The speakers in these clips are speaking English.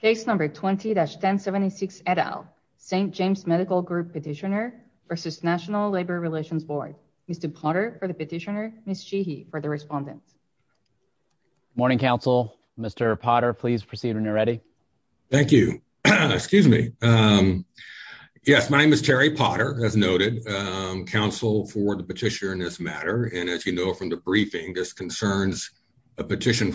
Case number 20-1076 et al. St. James Medical Group petitioner v. National Labor Relations Board. Mr. Potter for the petitioner, Ms. Cheehy for the respondent. Morning Council. Mr. Potter, please proceed when you're ready. Thank you. Excuse me. Yes, my name is Terry Potter, as noted. Council for the petitioner in this matter, and as you know from the briefing, this concerns a determination.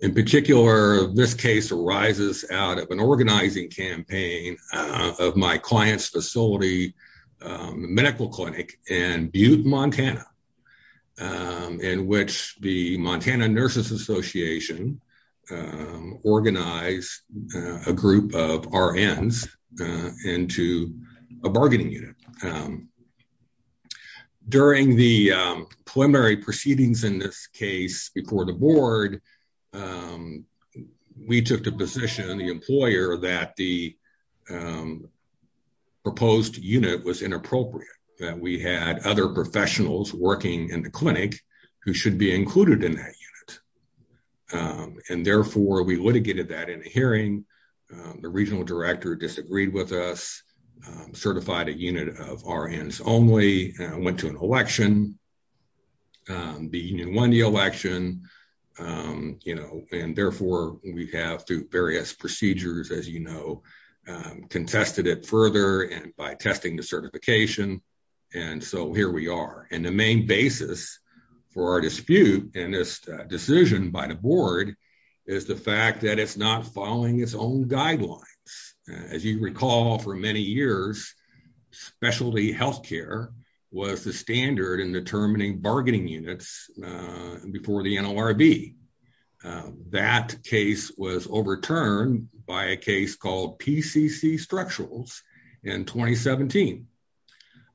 In particular, this case arises out of an organizing campaign of my client's facility, medical clinic in Butte, Montana, in which the Montana Nurses Association organized a group of RNs into a bargaining unit. During the preliminary proceedings in this case before the board, we took the position of the employer that the proposed unit was inappropriate, that we had other professionals working in the clinic who should be included in that unit. And therefore, we litigated that in a hearing. The regional director disagreed with us, certified a unit of RNs only, went to an election, the union won the election, you know, and therefore we have through various procedures, as you know, contested it further by testing the certification. And so here we are. And the main basis for our dispute in this decision by the board is the fact that it's not following its own guidelines. As you recall, for many years, specialty health care was the standard in determining bargaining units before the NLRB. That case was overturned by a case called PCC Structurals in 2017.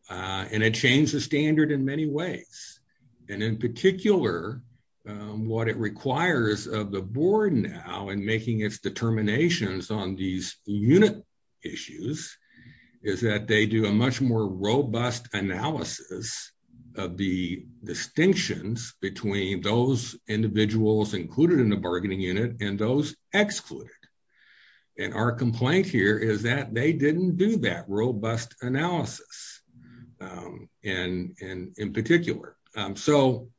And it changed the standard in many ways. And in particular, what it did in making its determinations on these unit issues, is that they do a much more robust analysis of the distinctions between those individuals included in the bargaining unit and those excluded. And our complaint here is that they didn't do that robust analysis. And in particular, so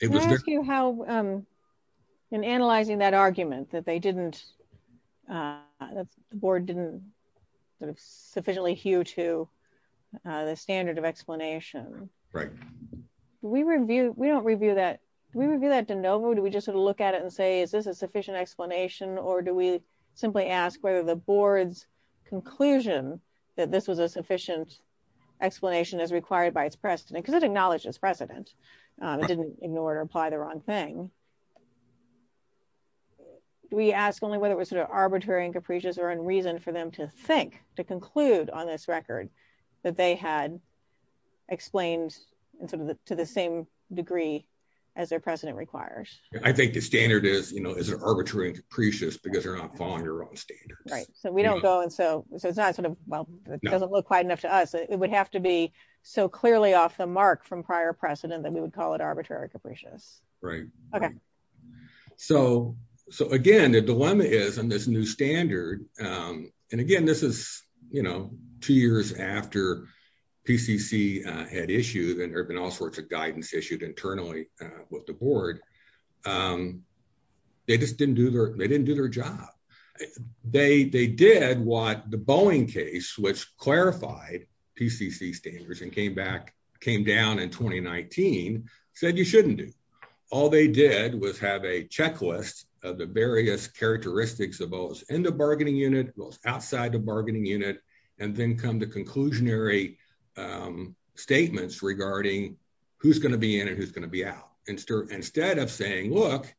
it was how, in analyzing that argument that they didn't, the board didn't sufficiently hew to the standard of explanation, right? We review, we don't review that, we review that de novo, do we just sort of look at it and say, is this a sufficient explanation? Or do we simply ask whether the board's conclusion that this was a sufficient explanation as required by its precedent, because it would apply the wrong thing? We ask only whether it was sort of arbitrary and capricious or in reason for them to think, to conclude on this record, that they had explained to the same degree as their precedent requires. I think the standard is, you know, is arbitrary and capricious because you're not following your own standards. Right. So we don't go and so it's not sort of, well, it doesn't look quite enough to us, it would have to be so clearly off the mark from prior precedent that we would call it arbitrary and capricious. Right. Okay. So, so again, the dilemma is on this new standard. And again, this is, you know, two years after PCC had issued and there have been all sorts of guidance issued internally with the board. They just didn't do their, they didn't do their job. They did what the Boeing case, which clarified PCC standards and came back, came down in 2019, said you shouldn't do. All they did was have a checklist of the various characteristics of those in the bargaining unit, those outside the bargaining unit, and then come to conclusionary statements regarding who's going to be in and who's going to be out. Instead of saying, look,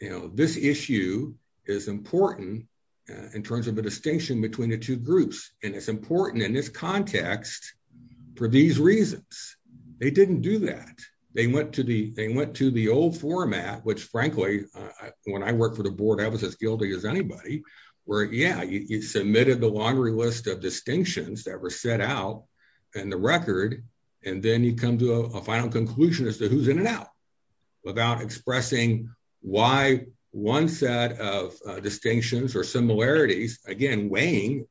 you know, this issue is important in terms of a context for these reasons. They didn't do that. They went to the, they went to the old format, which frankly, when I worked for the board, I was as guilty as anybody where, yeah, you submitted the laundry list of distinctions that were set out and the record, and then you come to a final conclusion as to who's in and out without expressing why one set of distinctions or similarities, again, weighing,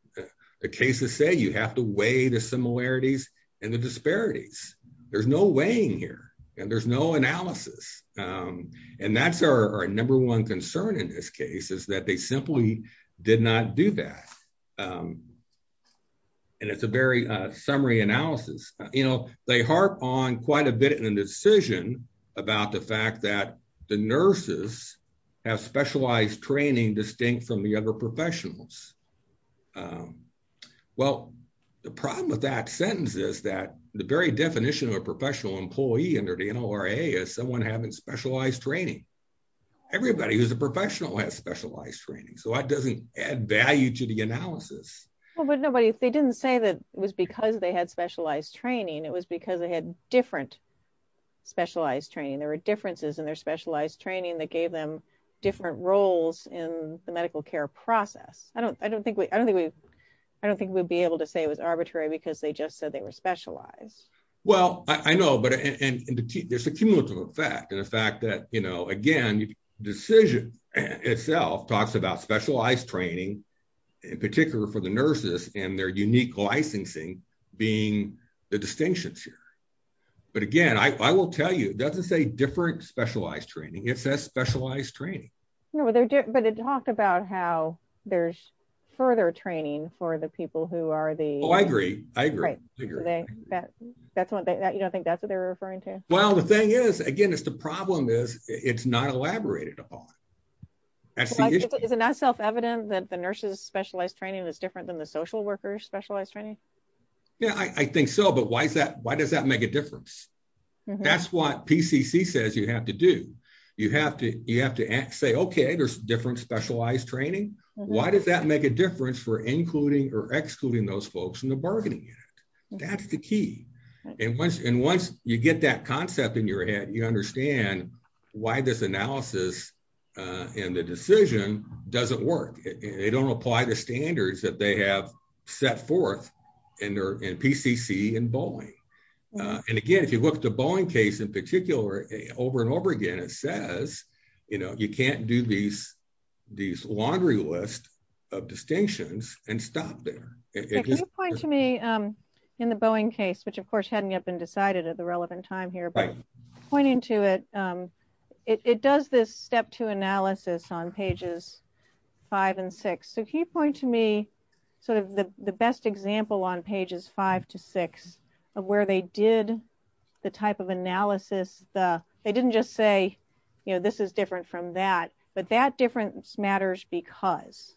the cases say you have to weigh the similarities and the disparities. There's no weighing here and there's no analysis. And that's our number one concern in this case is that they simply did not do that. And it's a very summary analysis. You know, they harp on quite a bit in the decision about the fact that the nurses have specialized training distinct from the professionals. Well, the problem with that sentence is that the very definition of a professional employee under the NLRA is someone having specialized training. Everybody who's a professional has specialized training. So that doesn't add value to the analysis. Well, but nobody, they didn't say that it was because they had specialized training. It was because they had different specialized training. There were differences in their specialized training that gave them different roles in the medical care process. I don't, I don't think we, I don't think we, I don't think we'd be able to say it was arbitrary because they just said they were specialized. Well, I know, but there's a cumulative effect and the fact that, you know, again, the decision itself talks about specialized training, in particular for the nurses and their unique licensing being the distinctions here. But again, I will tell you, it doesn't say different specialized training. It says specialized training. No, but they're different. But it talked about how there's further training for the people who are the... Oh, I agree. I agree. That's what they, you don't think that's what they're referring to? Well, the thing is, again, it's the problem is it's not elaborated upon. That's the issue. Isn't that self evident that the nurses specialized training is different than the social workers specialized training? Yeah, I think so. But why is that? Why does that make a difference? That's what say, okay, there's different specialized training. Why does that make a difference for including or excluding those folks in the bargaining unit? That's the key. And once you get that concept in your head, you understand why this analysis and the decision doesn't work. They don't apply the standards that they have set forth in PCC and Boeing. And again, if you look at the Boeing case in particular, over and over again, it says, you can't do these laundry list of distinctions and stop there. If you point to me in the Boeing case, which of course hadn't yet been decided at the relevant time here, but pointing to it, it does this step two analysis on pages five and six. So can you point to me sort of the best example on pages five to six of where they did the type of analysis the, they didn't just say, you know, this is different from that, but that difference matters because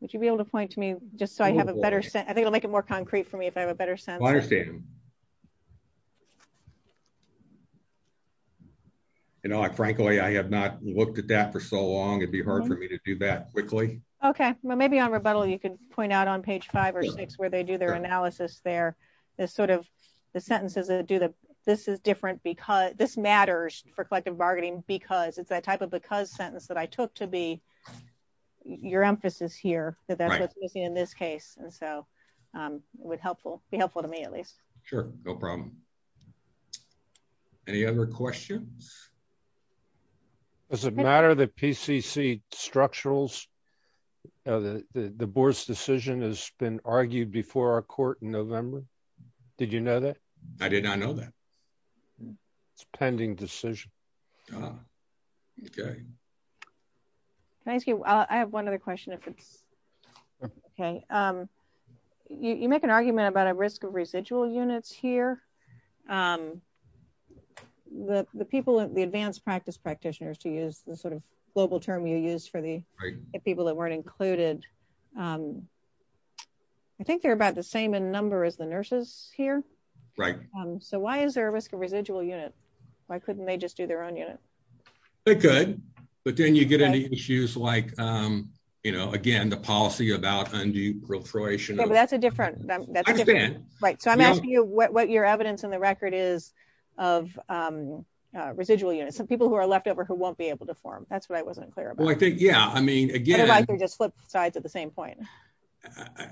would you be able to point to me just so I have a better sense? I think it'll make it more concrete for me if I have a better sense. I understand. You know, I, frankly, I have not looked at that for so long. It'd be hard for me to do that quickly. Okay. Well, maybe on rebuttal, you could point out on page five or six where they do their analysis. There is sort of the sentences that do the, this is different because this matters for collective bargaining because it's that type of because sentence that I took to be your emphasis here that that's what's missing in this case. And so, um, would helpful be helpful to me at least. Sure. No problem. Any other questions? Does it matter that PCC structurals, uh, the, the, the board's decision has been argued before our court in November. Did you know that? I did not know that it's pending decision. Can I ask you, I have one other question if it's okay. Um, you, you make an argument about a risk of residual units here. Um, the, the people at the advanced practice practitioners to use the sort of global term you use for the people that aren't included. Um, I think they're about the same in number as the nurses here. Right. Um, so why is there a risk of residual unit? Why couldn't they just do their own unit? They could, but then you get into issues like, um, you know, again, the policy about undue proliferation. That's a different, right. So I'm asking you what, what your evidence in the record is of, um, uh, residual units and people who are left over, who won't be able to form. That's what I wasn't clear about. I think, yeah, I mean, again, just flip sides at the same point.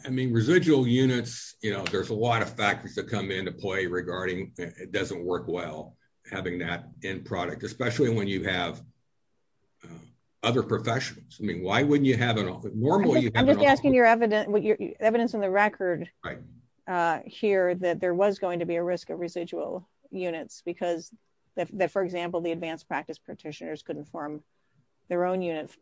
I mean, residual units, you know, there's a lot of factors that come into play regarding, it doesn't work well having that end product, especially when you have, uh, other professionals. I mean, why wouldn't you have an office normally? I'm just asking your evidence, what your evidence in the record, uh, here that there was going to be a risk of residual units because that, for example, the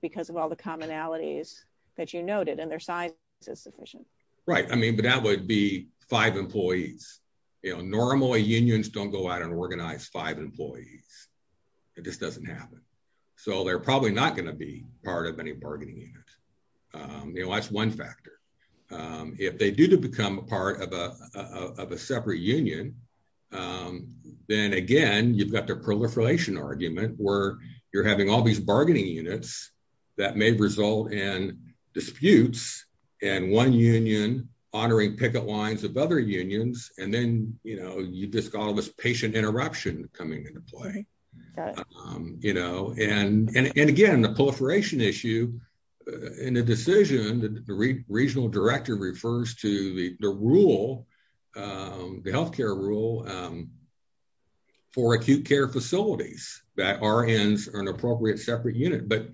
because of all the commonalities that you noted and their size is sufficient. Right. I mean, but that would be five employees, you know, normally unions don't go out and organize five employees. It just doesn't happen. So they're probably not going to be part of any bargaining units. Um, you know, that's one factor. Um, if they do to become a part of a, of a separate union, um, then again, you've got their proliferation argument where you're having all these that may result in disputes and one union honoring picket lines of other unions. And then, you know, you just got all this patient interruption coming into play, um, you know, and, and, and again, the proliferation issue and the decision that the regional director refers to the rule, um, the healthcare rule, um, for acute care facilities that are ends are an appropriate separate unit. But,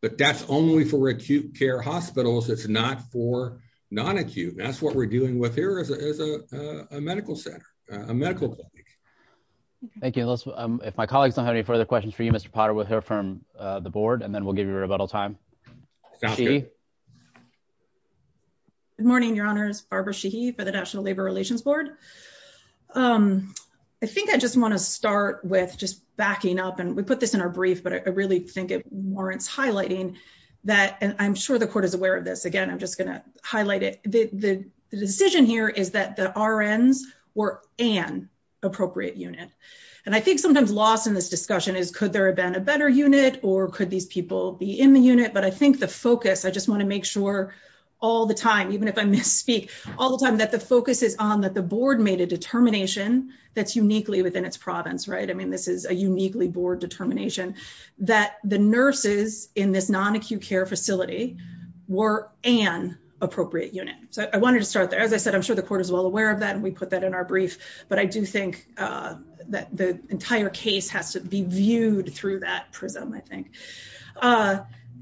but that's only for acute care hospitals. It's not for non acute. That's what we're doing with here is a medical center, a medical clinic. Thank you. Um, if my colleagues don't have any further questions for you, Mr Potter with her from the board and then we'll give you a rebuttal time. Good morning, your honors. Barbara Sheehy for the National Labor Relations Board. Um, I think I just want to start with just backing up and we put this in a brief, but I really think it warrants highlighting that. And I'm sure the court is aware of this again. I'm just gonna highlight it. The decision here is that the RNs were an appropriate unit. And I think sometimes lost in this discussion is, could there have been a better unit or could these people be in the unit? But I think the focus, I just want to make sure all the time, even if I misspeak all the time that the focus is on that the board made a determination that's uniquely within its province, right? I mean, this is a that the nurses in this non acute care facility were an appropriate unit. So I wanted to start there. As I said, I'm sure the court is well aware of that, and we put that in our brief. But I do think, uh, that the entire case has to be viewed through that prism, I think. Uh,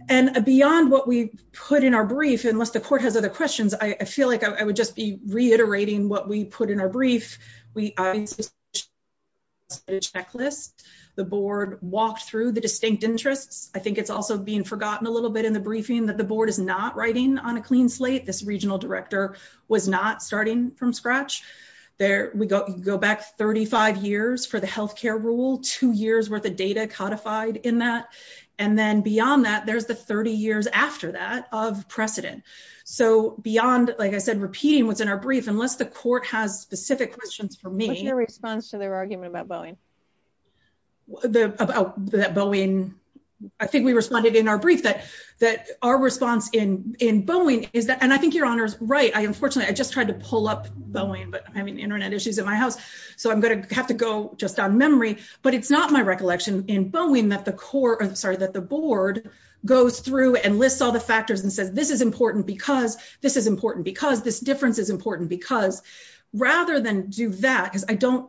and beyond what we put in our brief, unless the court has other questions, I feel like I would just be reiterating what we put in our brief. We a checklist. The board walked through the distinct interests. I think it's also being forgotten a little bit in the briefing that the board is not writing on a clean slate. This regional director was not starting from scratch. There we go. Go back 35 years for the health care rule. Two years worth of data codified in that. And then beyond that, there's the 30 years after that of precedent. So beyond, like I said, repeating what's in our brief, unless the court has specific questions for me, their response to their argument about Boeing, the about that Boeing. I think we responded in our brief that that our response in in Boeing is that and I think your honor's right. Unfortunately, I just tried to pull up Boeing, but I mean, Internet issues in my house, so I'm gonna have to go just on memory. But it's not my recollection in Boeing that the court sorry that the board goes through and lists all the factors and says this is important because this is important because this difference is important because rather than do that, because I don't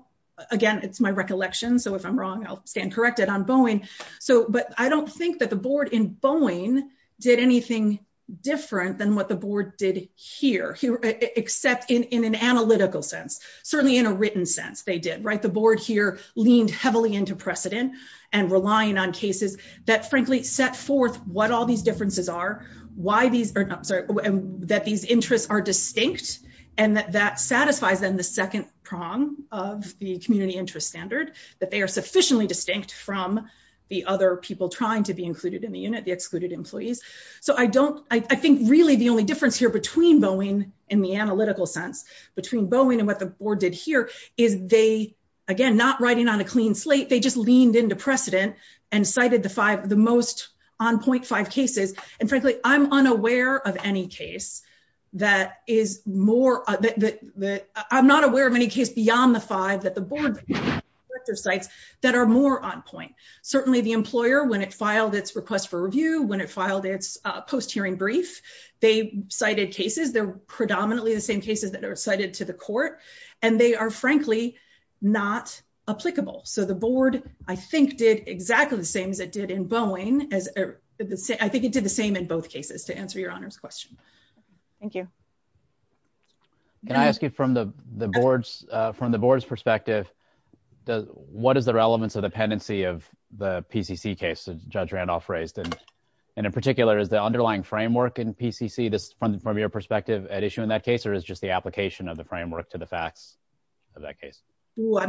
again, it's my recollection. So if I'm wrong, I'll stand corrected on Boeing. So but I don't think that the board in Boeing did anything different than what the board did here, except in in an analytical sense, certainly in a written sense they did right. The board here leaned heavily into precedent and relying on cases that frankly set forth what all these differences are, why these are sorry that these interests are distinct and that that satisfies them the second prong of the community interest standard that they are sufficiently distinct from the other people trying to be included in the unit, the excluded employees. So I don't I think really the only difference here between Boeing in the analytical sense between Boeing and what the board did here is they again not writing on a clean slate. They just leaned into precedent and cited the five of the most on point five cases. And frankly, I'm unaware of any case that is more that I'm not aware of any case beyond the five that the board sites that are more on point. Certainly the employer when it filed its request for review when it filed its post hearing brief, they cited cases, they're predominantly the same cases that are cited to the did exactly the same as it did in Boeing. As I think it did the same in both cases to answer your honor's question. Thank you. Can I ask you from the the board's from the board's perspective, does what is the relevance of dependency of the PCC case judge Randolph raised and, and in particular is the underlying framework in PCC this from from your perspective at issue in that case, or is just the application of the framework to the board. So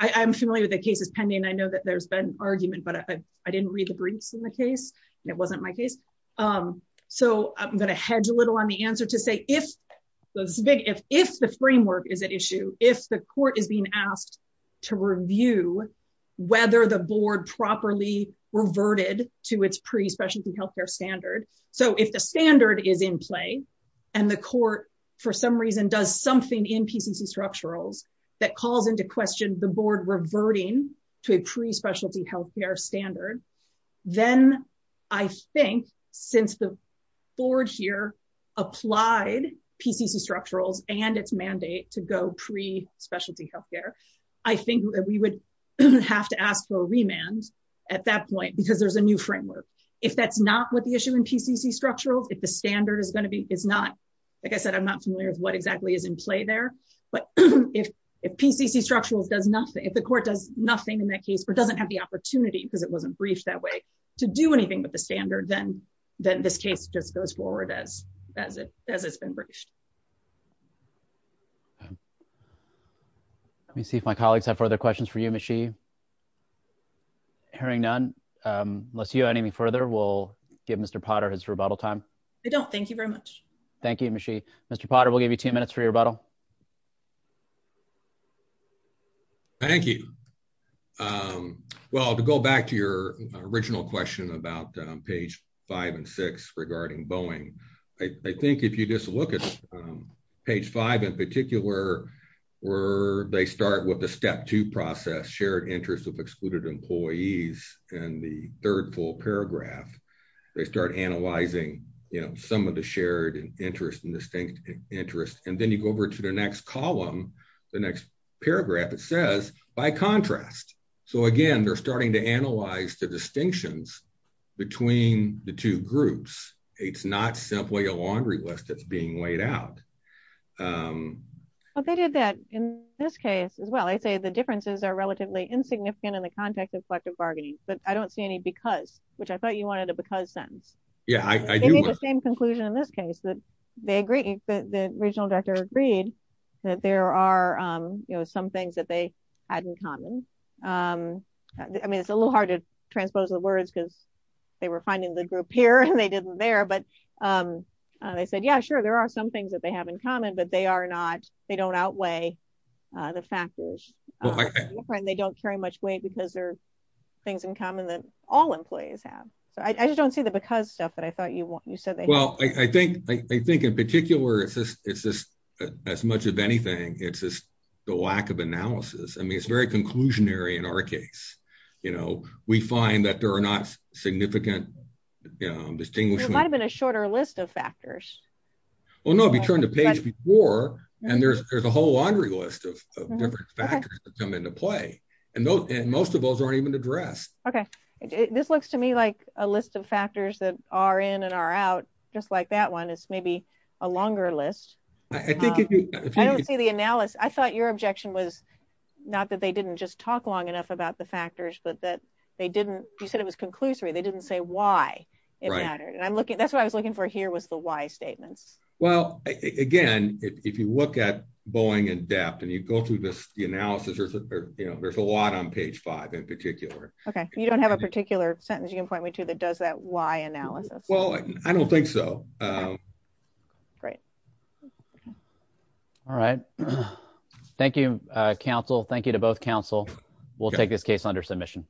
I'm familiar with the cases pending, I know that there's been argument, but I didn't read the briefs in the case, and it wasn't my case. So I'm going to hedge a little on the answer to say if those big if if the framework is an issue, if the court is being asked to review whether the board properly reverted to its pre specialty healthcare standard. So if the standard is in play, and the court, for some reason, does something in PCC structurals that calls into question the board reverting to a pre specialty healthcare standard, then I think since the board here applied PCC structurals and its mandate to go pre specialty healthcare, I think that we would have to ask for a remand at that point, because there's a new framework. If that's not what the issue in PCC structural if the standard is going to be is not, like I said, I'm not familiar with what exactly is in play there. But if, if PCC structural does nothing, if the court does nothing in that case, or doesn't have the opportunity because it wasn't briefed that way, to do anything with the standard, then, then this case just goes forward as as it as it's been briefed. Let me see if my colleagues have further questions for you machine. Hearing none. Unless you have anything further, we'll give Mr. Potter his rebuttal time. I don't thank you very much. Thank you, Michi. Mr. Potter will give you 10 minutes for your rebuttal. Thank you. Well, to go back to your original question about page five and six regarding Boeing, I think if you just look at page five, in particular, where they start with the step two process shared interests of excluded employees. And the third full paragraph, they start analyzing, you know, some of the shared interest and distinct interest. And then you go over to the next column, the next paragraph, it says, by contrast, so again, they're starting to analyze the distinctions between the two groups. It's not simply a laundry list that's being laid out. But they did that in this case, as well, I'd say the differences are relatively insignificant in the context of collective bargaining, but I don't see any because which I thought you wanted to because sentence. Yeah, I made the same conclusion in this case that they agree that the regional director agreed that there are some things that they had in common. I mean, it's a little hard to transpose the words because they were finding the group here and they didn't there. But they said, Yeah, sure, there are some things that they have in common. But they are not they don't outweigh the factors. They don't carry much weight because they're things in common that all employees have. So I just don't see the because stuff that I thought you want. You said they well, I think I think in particular, it's just it's just as much of anything. It's just the lack of analysis. I mean, it's very conclusionary in our case. You know, we find that there are not significant distinguish might have been a shorter list of factors. Well, no, we turned the page before. And there's there's a whole laundry list of different factors that come into play. And most of those aren't even addressed. Okay. This looks to me like a list of factors that are in and are out, just like that one is maybe a longer list. I think if you don't see the analysis, I thought your objection was not that they didn't just talk long enough about the factors, but that they didn't. You said it was conclusory. They didn't say why it mattered. And I'm looking. That's what I was looking for. Here was the why statements. Well, again, if you look at Boeing in depth and you go through this analysis, you know, there's a lot on page five in particular. Okay. You don't have a particular sentence. You can point me to that. Does that why analysis? Well, I don't think so. Um, great. All right. Thank you, Council. Thank you to both Council. We'll take this case under submission.